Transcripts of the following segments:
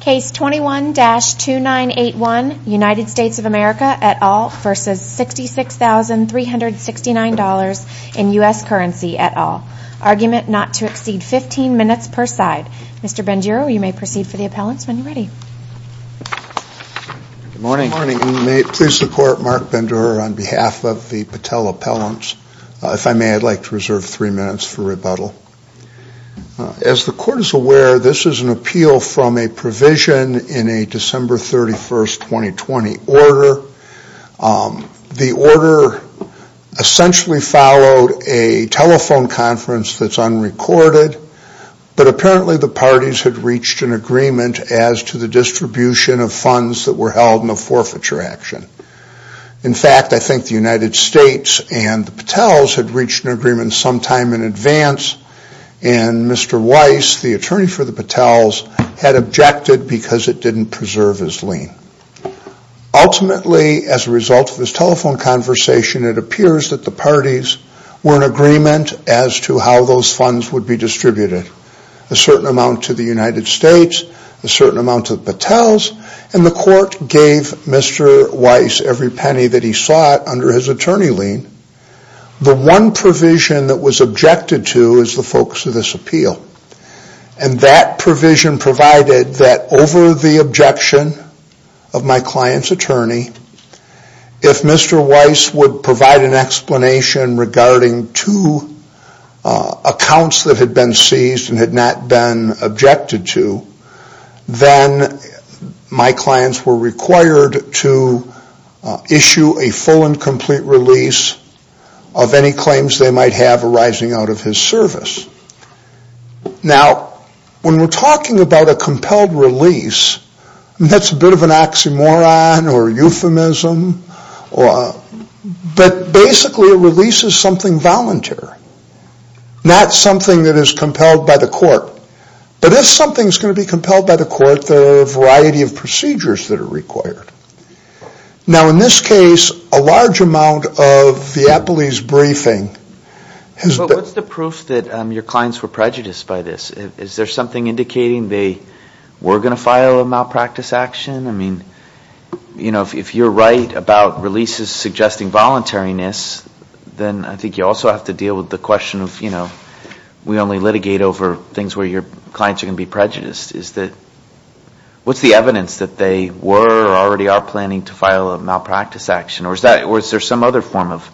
Case 21-2981, United States of America et al. v. 66369 in US currency et al. Argument not to exceed 15 minutes per side. Mr. Benduro, you may proceed for the appellants when you're ready. Good morning. Good morning, and may it please support Mark Benduro on behalf of the Patel appellants. If I may, I'd like to reserve three minutes for rebuttal. As the court is aware, this is an appeal from a provision in a December 31st, 2020 order. The order essentially followed a telephone conference that's unrecorded, but apparently the parties had reached an agreement as to the distribution of funds that were held in the forfeiture action. In fact, I think the United States and the Patels had reached an agreement sometime in advance, and Mr. Weiss, the attorney for the Patels, had objected because it didn't preserve his lien. Ultimately, as a result of this telephone conversation, it appears that the parties were in agreement as to how those funds would be distributed. A certain amount to the United States, a certain amount to the Patels, and the court gave Mr. Weiss every penny that he sought under his attorney lien. The one provision that was objected to is the focus of this appeal, and that provision provided that over the objection of my client's attorney, if Mr. Weiss would provide an explanation regarding two accounts that had been seized and had not been objected to, then my clients were required to issue a full and complete release of any claims they might have arising out of his service. Now, when we're talking about a compelled release, that's a bit of an oxymoron or a euphemism, but basically a release is something voluntary, not something that is compelled by the court. But if something is going to be compelled by the court, there are a variety of procedures that are required. Now, in this case, a large amount of the Appley's briefing has been... But what's the proof that your clients were prejudiced by this? Is there something indicating they were going to file a malpractice action? I mean, you know, if you're right about releases suggesting voluntariness, then I think you also have to deal with the question of, you know, we only litigate over things where your clients are going to be prejudiced. What's the evidence that they were or already are planning to file a malpractice action? Or is there some other form of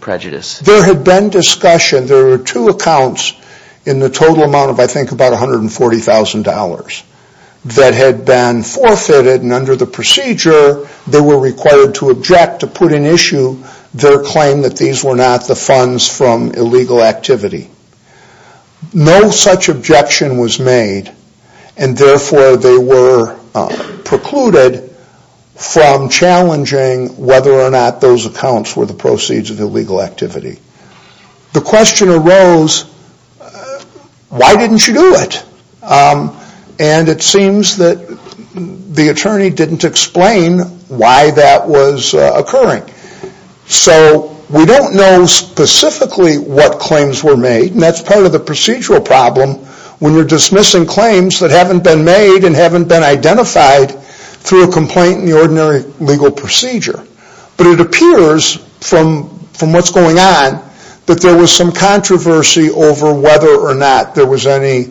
prejudice? There had been discussion. There were two accounts in the total amount of, I think, about $140,000 that had been forfeited, and under the procedure, they were required to object, to put in issue, their claim that these were not the funds from illegal activity. No such objection was made, and therefore they were precluded from challenging whether or not those accounts were the proceeds of illegal activity. The question arose, why didn't you do it? And it seems that the attorney didn't explain why that was occurring. So we don't know specifically what claims were made, and that's part of the procedural problem when you're dismissing claims that haven't been made and haven't been identified through a complaint in the ordinary legal procedure. But it appears from what's going on that there was some controversy over whether or not there was any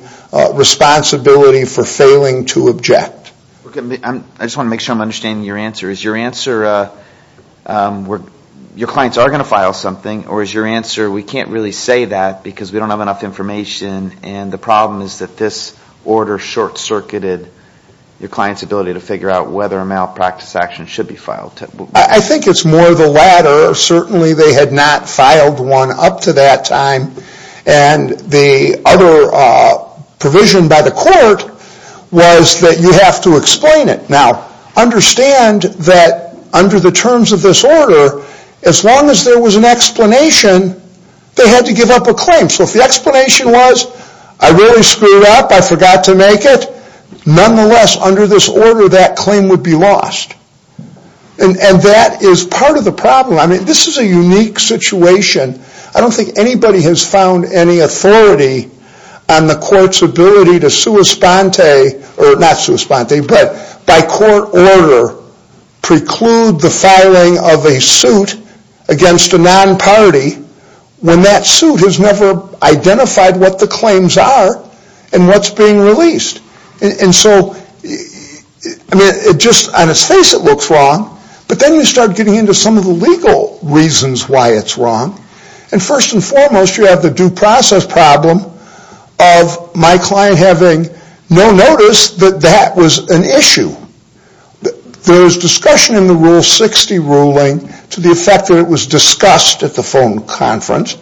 responsibility for failing to object. I just want to make sure I'm understanding your answer. Is your answer, your clients are going to file something, or is your answer we can't really say that because we don't have enough information and the problem is that this order short-circuited your client's ability to figure out whether a malpractice action should be filed? I think it's more the latter. Certainly they had not filed one up to that time, and the other provision by the court was that you have to explain it. Now understand that under the terms of this order, as long as there was an explanation, they had to give up a claim. So if the explanation was, I really screwed up, I forgot to make it, nonetheless under this order that claim would be lost. And that is part of the problem. I mean this is a unique situation. I don't think anybody has found any authority on the court's ability to sui sponte, or not sui sponte, but by court order preclude the filing of a suit against a non-party when that suit has never identified what the claims are and what's being released. And so, I mean, just on its face it looks wrong, but then you start getting into some of the legal reasons why it's wrong. And first and foremost you have the due process problem of my client having no notice that that was an issue. There is discussion in the Rule 60 ruling to the effect that it was discussed at the phone conference,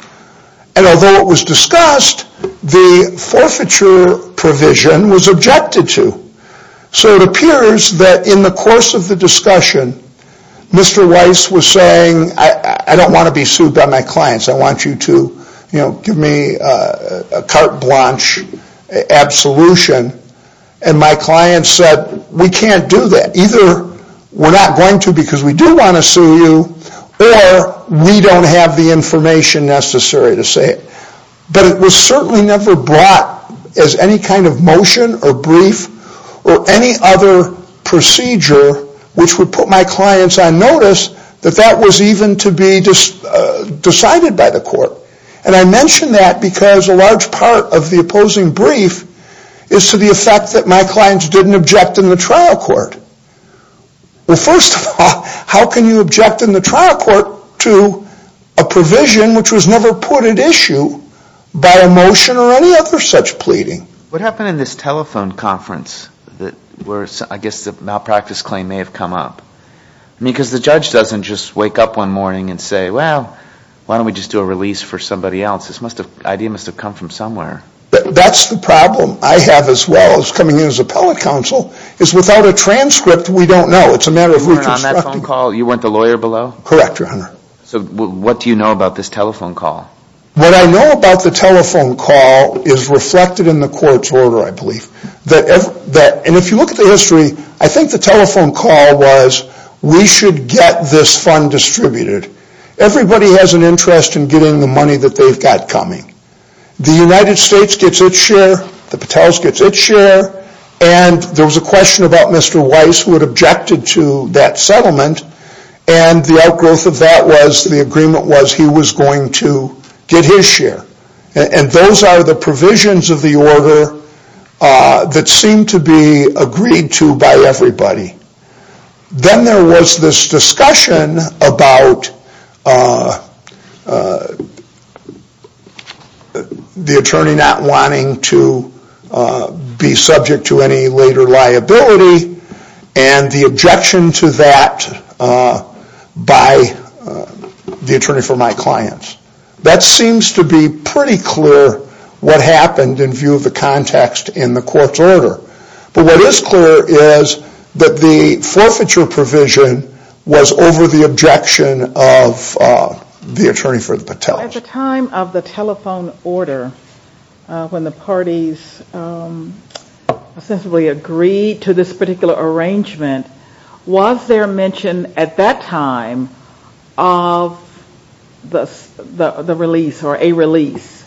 and although it was discussed, the forfeiture provision was objected to. So it appears that in the course of the discussion, Mr. Weiss was saying, I don't want to be sued by my clients. I want you to give me a carte blanche absolution. And my client said, we can't do that. Either we're not going to because we do want to sue you, or we don't have the information necessary to say it. But it was certainly never brought as any kind of motion or brief or any other procedure which would put my clients on notice that that was even to be decided by the court. And I mention that because a large part of the opposing brief is to the effect that my clients didn't object in the trial court. Well, first of all, how can you object in the trial court to a provision which was never put at issue by a motion or any other such pleading? What happened in this telephone conference that I guess the malpractice claim may have come up? I mean, because the judge doesn't just wake up one morning and say, well, why don't we just do a release for somebody else? This idea must have come from somewhere. That's the problem I have as well as coming in as appellate counsel, is without a transcript, we don't know. It's a matter of reconstructing. You weren't on that phone call? You weren't the lawyer below? Correct, Your Honor. So what do you know about this telephone call? What I know about the telephone call is reflected in the court's order, I believe. And if you look at the history, I think the telephone call was, we should get this fund distributed. Everybody has an interest in getting the money that they've got coming. The United States gets its share. The Patels gets its share. And there was a question about Mr. Weiss who had objected to that settlement, and the outgrowth of that was the agreement was he was going to get his share. And those are the provisions of the order that seem to be agreed to by everybody. Then there was this discussion about the attorney not wanting to be subject to any later liability, and the objection to that by the attorney for my clients. That seems to be pretty clear what happened in view of the context in the court's order. But what is clear is that the forfeiture provision was over the objection of the attorney for the Patels. At the time of the telephone order, when the parties sensibly agreed to this particular arrangement, was there mention at that time of the release or a release?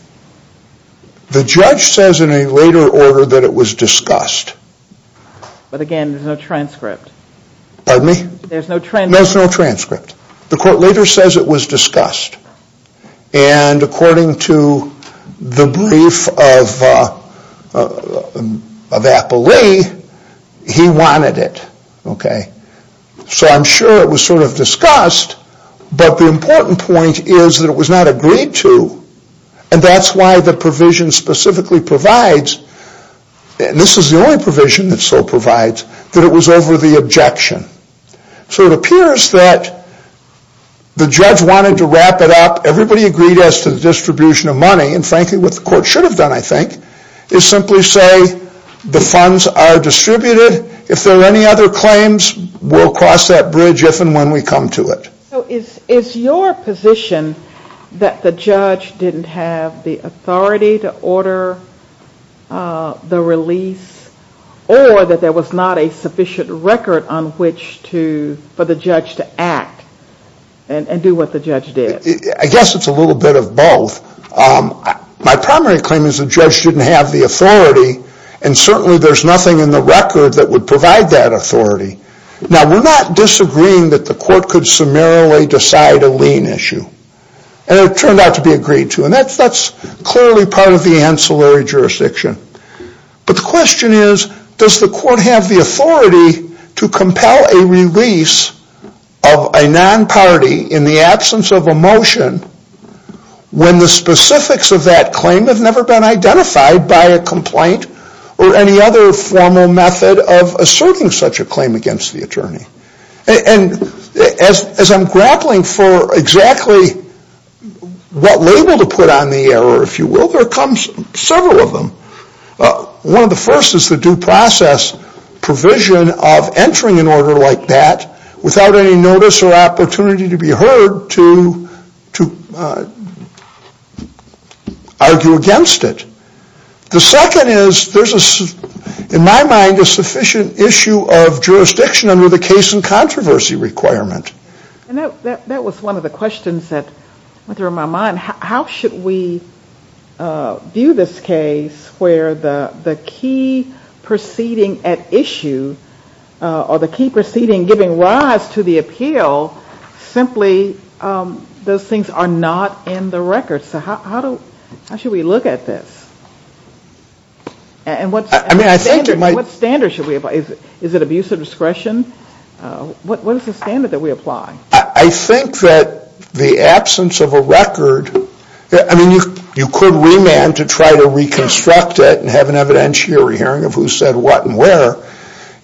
The judge says in a later order that it was discussed. But again, there's no transcript. Pardon me? There's no transcript. There's no transcript. The court later says it was discussed. And according to the brief of Apple Lee, he wanted it. So I'm sure it was sort of discussed, but the important point is that it was not agreed to. And that's why the provision specifically provides, and this is the only provision that so provides, that it was over the objection. So it appears that the judge wanted to wrap it up. Everybody agreed as to the distribution of money. And frankly, what the court should have done, I think, is simply say the funds are distributed. If there are any other claims, we'll cross that bridge if and when we come to it. So is your position that the judge didn't have the authority to order the release or that there was not a sufficient record on which for the judge to act and do what the judge did? I guess it's a little bit of both. My primary claim is the judge didn't have the authority, and certainly there's nothing in the record that would provide that authority. Now, we're not disagreeing that the court could summarily decide a lien issue. And it turned out to be agreed to. And that's clearly part of the ancillary jurisdiction. But the question is, does the court have the authority to compel a release of a non-party in the absence of a motion when the specifics of that claim have never been identified by a complaint or any other formal method of asserting such a claim against the attorney? And as I'm grappling for exactly what label to put on the error, if you will, there comes several of them. One of the first is the due process provision of entering an order like that without any notice or opportunity to be heard to argue against it. The second is there's, in my mind, a sufficient issue of jurisdiction under the case and controversy requirement. And that was one of the questions that went through my mind. How should we view this case where the key proceeding at issue or the key proceeding giving rise to the appeal simply those things are not in the record? So how should we look at this? And what standard should we apply? Is it abuse of discretion? What is the standard that we apply? I think that the absence of a record, I mean, you could remand to try to reconstruct it and have an evidentiary hearing of who said what and where.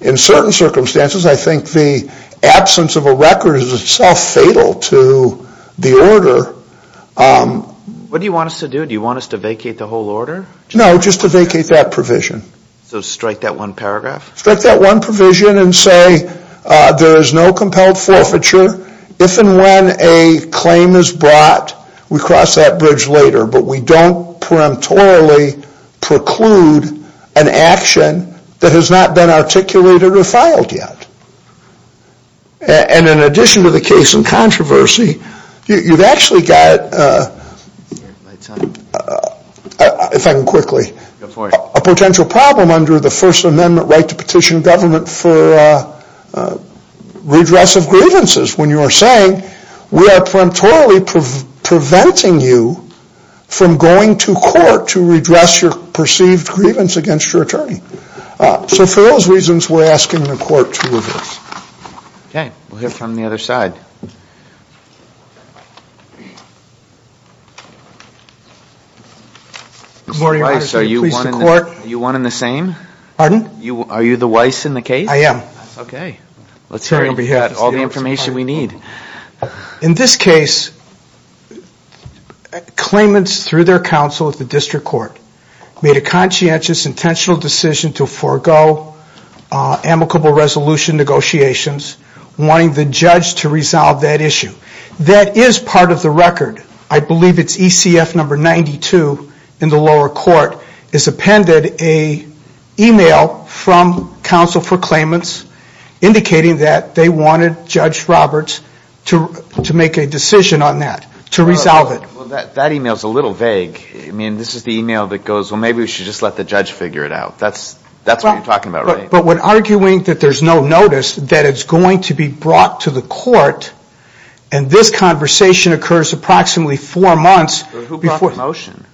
In certain circumstances, I think the absence of a record is itself fatal to the order. What do you want us to do? Do you want us to vacate the whole order? No, just to vacate that provision. So strike that one paragraph? Strike that one provision and say there is no compelled forfeiture. If and when a claim is brought, we cross that bridge later, but we don't preemptorily preclude an action that has not been articulated or filed yet. And in addition to the case and controversy, you've actually got, if I can quickly, a potential problem under the First Amendment right to petition government for redress of grievances when you are saying we are preemptorily preventing you from going to court to redress your perceived grievance against your attorney. So for those reasons, we're asking the court to reverse. Okay, we'll hear from the other side. Mr. Weiss, are you one in the same? Pardon? Are you the Weiss in the case? I am. Okay. Let's get all the information we need. In this case, claimants through their counsel at the district court made a conscientious, intentional decision to forego amicable resolution negotiations, wanting the judge to resolve that issue. That is part of the record. I believe it's ECF number 92 in the lower court. It's appended an email from counsel for claimants indicating that they wanted Judge Roberts to make a decision on that, to resolve it. That email is a little vague. I mean, this is the email that goes, well, maybe we should just let the judge figure it out. That's what you're talking about, right? But when arguing that there's no notice that it's going to be brought to the court, and this conversation occurs approximately four months before. Who brought the motion?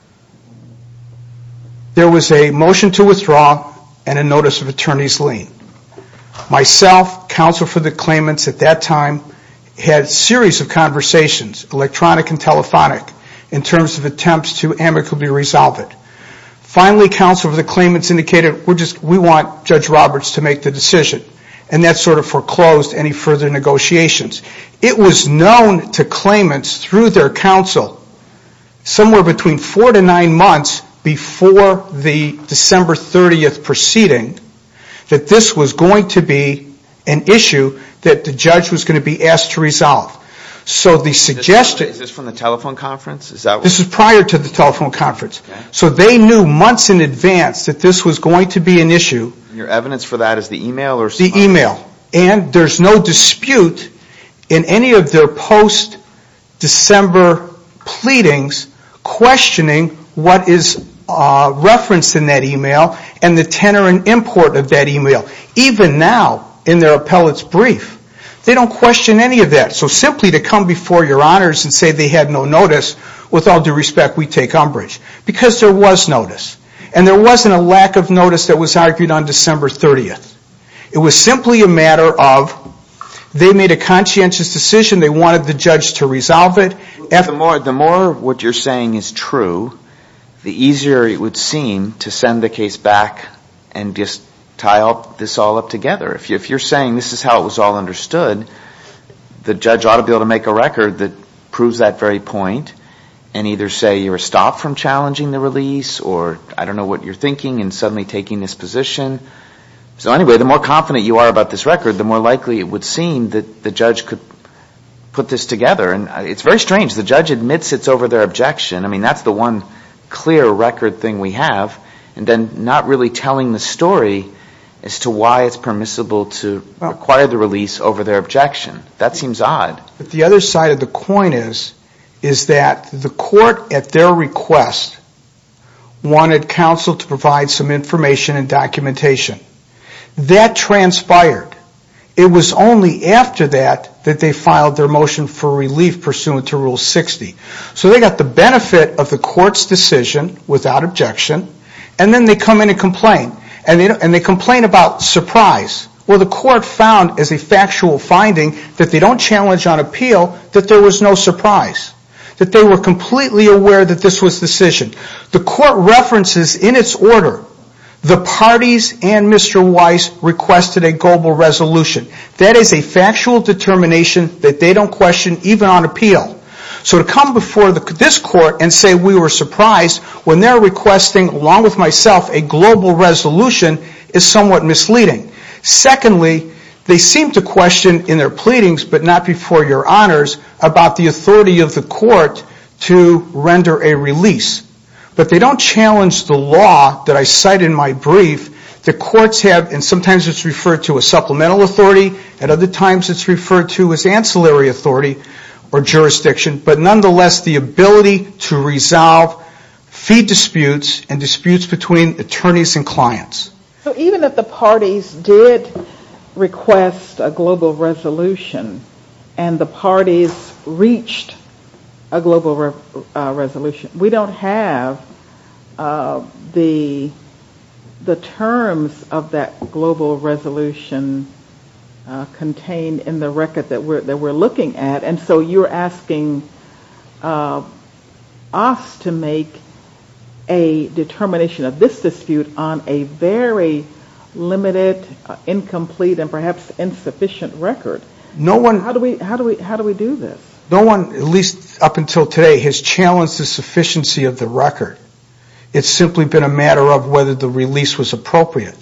There was a motion to withdraw and a notice of attorney's lien. Myself, counsel for the claimants at that time, had a series of conversations, electronic and telephonic, in terms of attempts to amicably resolve it. Finally, counsel for the claimants indicated, we want Judge Roberts to make the decision. And that sort of foreclosed any further negotiations. It was known to claimants through their counsel, somewhere between four to nine months before the December 30th proceeding, that this was going to be an issue that the judge was going to be asked to resolve. Is this from the telephone conference? This is prior to the telephone conference. So they knew months in advance that this was going to be an issue. And your evidence for that is the email? The email. And there's no dispute in any of their post-December pleadings, questioning what is referenced in that email and the tenor and import of that email. Even now, in their appellate's brief, they don't question any of that. So simply to come before your honors and say they had no notice, with all due respect, we take umbrage. Because there was notice. And there wasn't a lack of notice that was argued on December 30th. It was simply a matter of, they made a conscientious decision, they wanted the judge to resolve it. The more what you're saying is true, the easier it would seem to send the case back and just tie this all up together. If you're saying this is how it was all understood, the judge ought to be able to make a record that proves that very point and either say you're stopped from challenging the release or I don't know what you're thinking and suddenly taking this position. So anyway, the more confident you are about this record, the more likely it would seem that the judge could put this together. And it's very strange. The judge admits it's over their objection. I mean, that's the one clear record thing we have. And then not really telling the story as to why it's permissible to require the release over their objection. That seems odd. The other side of the coin is that the court, at their request, wanted counsel to provide some information and documentation. That transpired. It was only after that that they filed their motion for relief pursuant to Rule 60. So they got the benefit of the court's decision without objection, and then they come in and complain. And they complain about surprise. Well, the court found as a factual finding that they don't challenge on appeal that there was no surprise. That they were completely aware that this was a decision. The court references in its order, the parties and Mr. Weiss requested a global resolution. That is a factual determination that they don't question even on appeal. So to come before this court and say we were surprised when they're requesting, along with myself, a global resolution, is somewhat misleading. Secondly, they seem to question in their pleadings, but not before your honors, about the authority of the court to render a release. But they don't challenge the law that I cite in my brief that courts have, and sometimes it's referred to as supplemental authority, and other times it's referred to as ancillary authority or jurisdiction, but nonetheless the ability to resolve fee disputes and disputes between attorneys and clients. So even if the parties did request a global resolution and the parties reached a global resolution, we don't have the terms of that global resolution contained in the record that we're looking at. And so you're asking us to make a determination of this dispute on a very limited, incomplete, and perhaps insufficient record. How do we do this? No one, at least up until today, has challenged the sufficiency of the record. It's simply been a matter of whether the release was appropriate.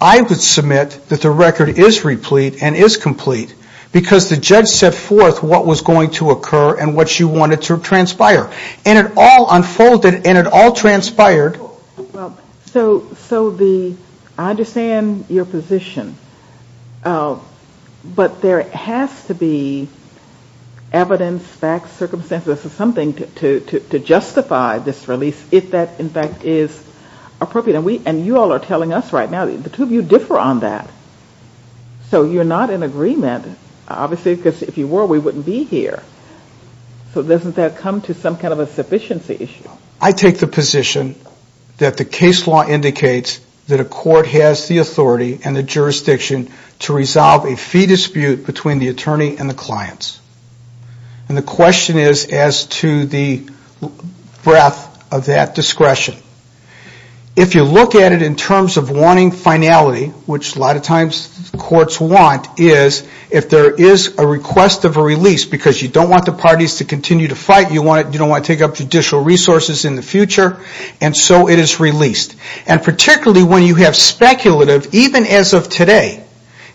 I would submit that the record is replete and is complete because the judge set forth what was going to occur and what you wanted to transpire. And it all unfolded and it all transpired. So I understand your position, but there has to be evidence, facts, circumstances, something to justify this release if that, in fact, is appropriate. And you all are telling us right now, the two of you differ on that. So you're not in agreement, obviously, because if you were, we wouldn't be here. So doesn't that come to some kind of a sufficiency issue? I take the position that the case law indicates that a court has the authority and the jurisdiction to resolve a fee dispute between the attorney and the clients. And the question is as to the breadth of that discretion. If you look at it in terms of wanting finality, which a lot of times courts want, is if there is a request of a release because you don't want the parties to continue to fight, you don't want to take up judicial resources in the future, and so it is released. And particularly when you have speculative, even as of today,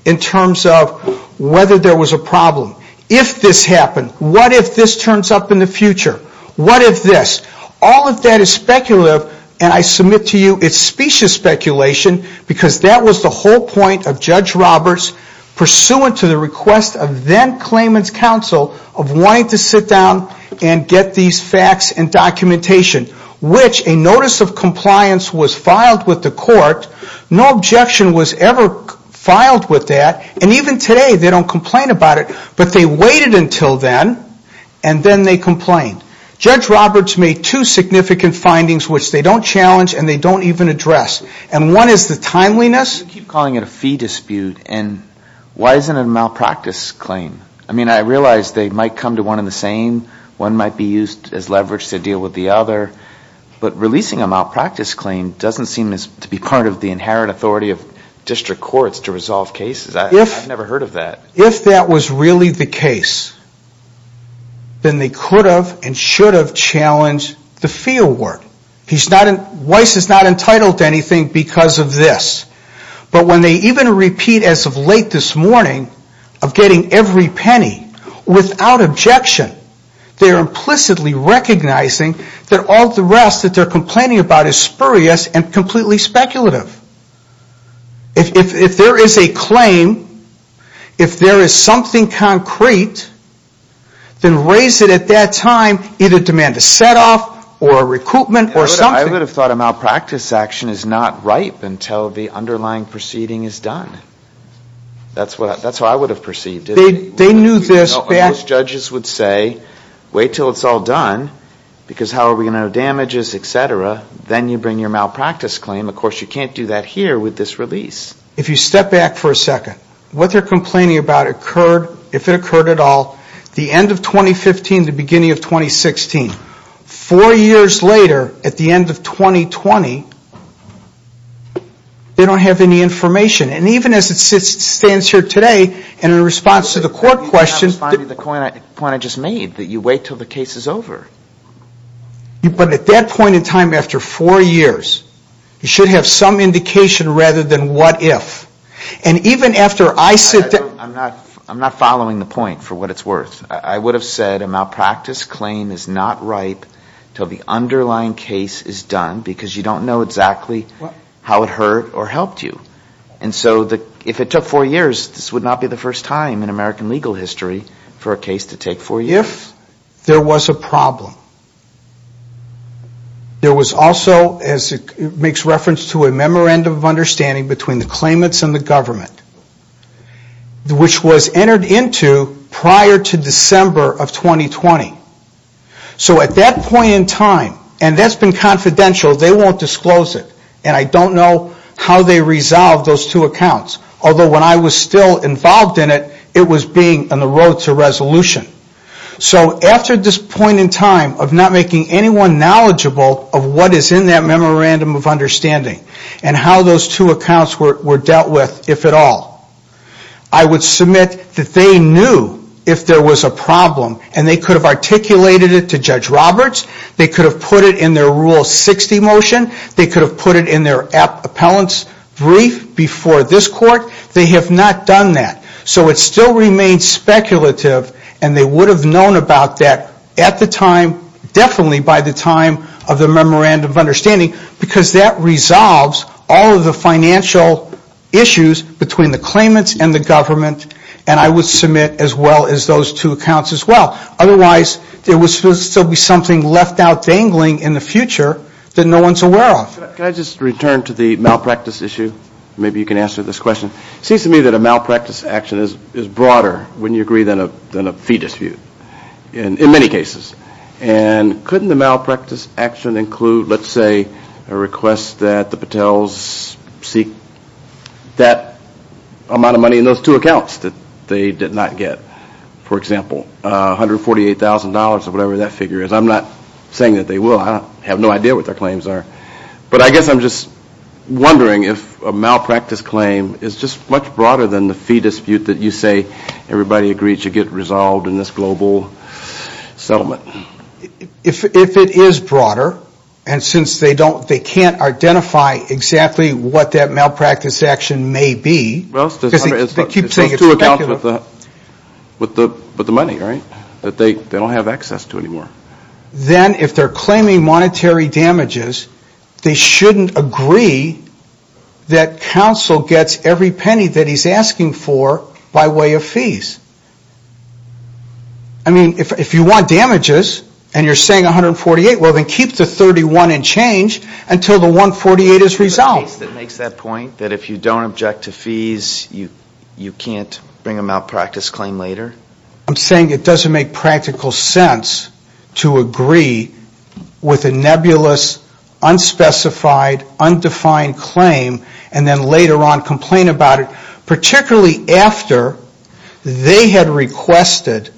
in terms of whether there was a problem, if this happened, what if this turns up in the future, what if this. All of that is speculative, and I submit to you it's specious speculation because that was the whole point of Judge Roberts, pursuant to the request of then-claimant's counsel, of wanting to sit down and get these facts and documentation, which a notice of compliance was filed with the court. No objection was ever filed with that. And even today they don't complain about it. But they waited until then, and then they complained. Judge Roberts made two significant findings, which they don't challenge and they don't even address. And one is the timeliness. You keep calling it a fee dispute, and why isn't it a malpractice claim? I mean, I realize they might come to one in the same, one might be used as leverage to deal with the other, but releasing a malpractice claim doesn't seem to be part of the inherent authority of district courts to resolve cases. I've never heard of that. If that was really the case, then they could have and should have challenged the fee award. Weiss is not entitled to anything because of this. But when they even repeat as of late this morning of getting every penny, without objection, they're implicitly recognizing that all the rest that they're complaining about is spurious and completely speculative. If there is a claim, if there is something concrete, then raise it at that time, either demand a set-off or a recoupment or something. I would have thought a malpractice action is not ripe until the underlying proceeding is done. That's what I would have perceived, isn't it? Most judges would say, wait until it's all done, because how are we going to know damages, et cetera, then you bring your malpractice claim. Of course, you can't do that here with this release. If you step back for a second, what they're complaining about occurred, if it occurred at all, the end of 2015 to the beginning of 2016. Four years later, at the end of 2020, they don't have any information. And even as it stands here today, and in response to the court question. You're not finding the point I just made, that you wait until the case is over. But at that point in time, after four years, you should have some indication rather than what if. And even after I sit down. I'm not following the point, for what it's worth. I would have said a malpractice claim is not ripe until the underlying case is done, because you don't know exactly how it hurt or helped you. And so if it took four years, this would not be the first time in American legal history for a case to take four years. If there was a problem. There was also, as it makes reference to a memorandum of understanding between the claimants and the government. Which was entered into prior to December of 2020. So at that point in time, and that's been confidential, they won't disclose it. And I don't know how they resolved those two accounts. Although when I was still involved in it, it was being on the road to resolution. So after this point in time of not making anyone knowledgeable of what is in that memorandum of understanding. And how those two accounts were dealt with, if at all. I would submit that they knew if there was a problem. And they could have articulated it to Judge Roberts. They could have put it in their Rule 60 motion. They could have put it in their appellant's brief before this court. They have not done that. So it still remains speculative. And they would have known about that at the time, definitely by the time of the memorandum of understanding. Because that resolves all of the financial issues between the claimants and the government. And I would submit as well as those two accounts as well. Otherwise, there would still be something left out dangling in the future that no one is aware of. Can I just return to the malpractice issue? Maybe you can answer this question. It seems to me that a malpractice action is broader, wouldn't you agree, than a fee dispute. In many cases. And couldn't the malpractice action include, let's say, a request that the Patels seek that amount of money in those two accounts that they did not get. For example, $148,000 or whatever that figure is. I'm not saying that they will. I have no idea what their claims are. But I guess I'm just wondering if a malpractice claim is just much broader than the fee dispute that you say everybody agreed should get resolved in this global settlement. If it is broader, and since they can't identify exactly what that malpractice action may be. Well, it's those two accounts with the money, right? That they don't have access to anymore. Then if they're claiming monetary damages, they shouldn't agree that counsel gets every penny that he's asking for by way of fees. I mean, if you want damages, and you're saying $148,000, well then keep the $31,000 and change until the $148,000 is resolved. Is there a case that makes that point? That if you don't object to fees, you can't bring a malpractice claim later? I'm saying it doesn't make practical sense to agree with a nebulous, unspecified, undefined claim, and then later on complain about it. Particularly after they had requested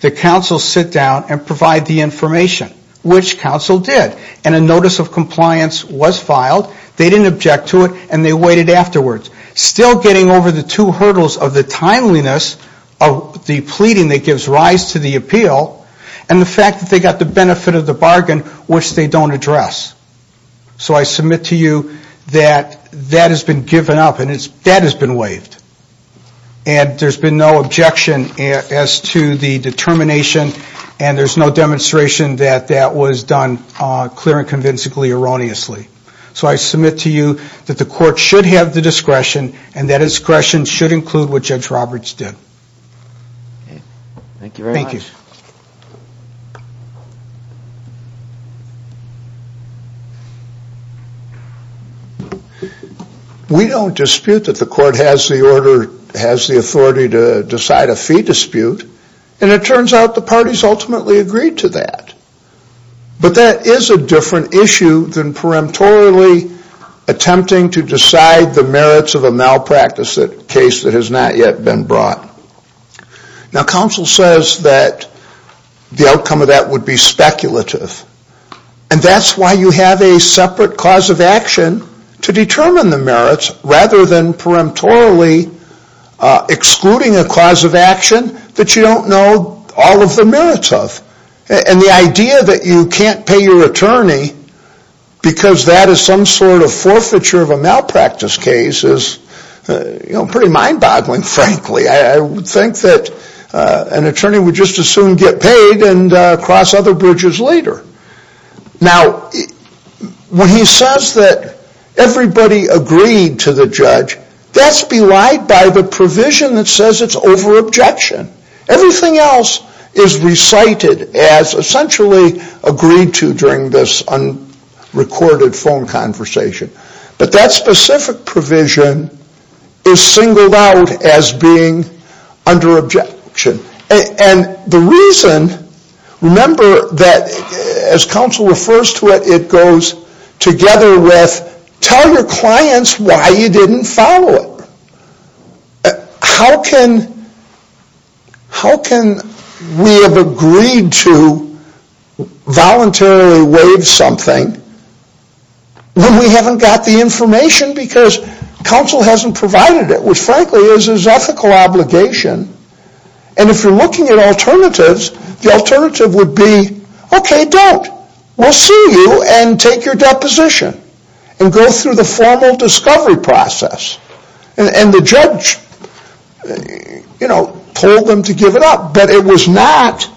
that counsel sit down and provide the information, which counsel did. And a notice of compliance was filed. They didn't object to it, and they waited afterwards. Still getting over the two hurdles of the timeliness of the pleading that gives rise to the appeal, and the fact that they got the benefit of the bargain, which they don't address. So I submit to you that that has been given up, and that has been waived. And there's been no objection as to the determination, and there's no demonstration that that was done clear and convincingly, erroneously. So I submit to you that the court should have the discretion, and that discretion should include what Judge Roberts did. Thank you very much. Thank you. We don't dispute that the court has the order, has the authority to decide a fee dispute, and it turns out the parties ultimately agreed to that. But that is a different issue than peremptorily attempting to decide the merits of a malpractice case that has not yet been brought. Now counsel says that the outcome of that would be speculative, and that's why you have a separate cause of action to determine the merits, rather than peremptorily excluding a cause of action that you don't know all of the merits of. And the idea that you can't pay your attorney because that is some sort of forfeiture of a malpractice case is pretty mind-boggling, frankly. I would think that an attorney would just as soon get paid and cross other bridges later. Now when he says that everybody agreed to the judge, that's belied by the provision that says it's over-objection. Everything else is recited as essentially agreed to during this unrecorded phone conversation. But that specific provision is singled out as being under-objection. And the reason, remember that as counsel refers to it, it goes together with tell your clients why you didn't follow it. How can we have agreed to voluntarily waive something when we haven't got the information because counsel hasn't provided it, which frankly is his ethical obligation. And if you're looking at alternatives, the alternative would be, okay, don't. We'll see you and take your deposition and go through the formal discovery process. And the judge told them to give it up, but it was not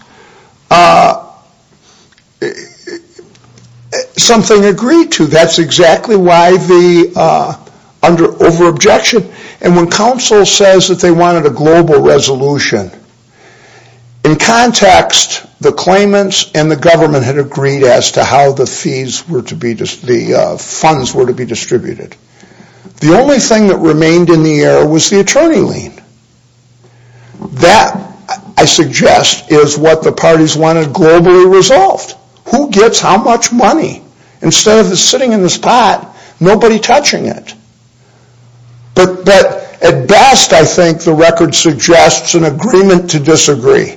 something agreed to. That's exactly why the over-objection. And when counsel says that they wanted a global resolution, in context, the claimants and the government had agreed as to how the funds were to be distributed. The only thing that remained in the air was the attorney lien. That, I suggest, is what the parties wanted globally resolved. Who gets how much money? Instead of it sitting in this pot, nobody touching it. But at best, I think, the record suggests an agreement to disagree.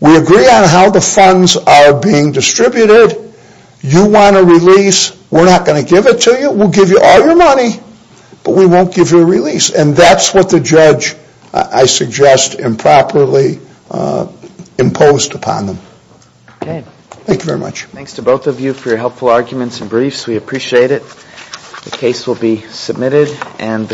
We agree on how the funds are being distributed. You want a release. We're not going to give it to you. We'll give you all your money, but we won't give you a release. And that's what the judge, I suggest, improperly imposed upon them. Thank you very much. Thanks to both of you for your helpful arguments and briefs. We appreciate it. The case will be submitted.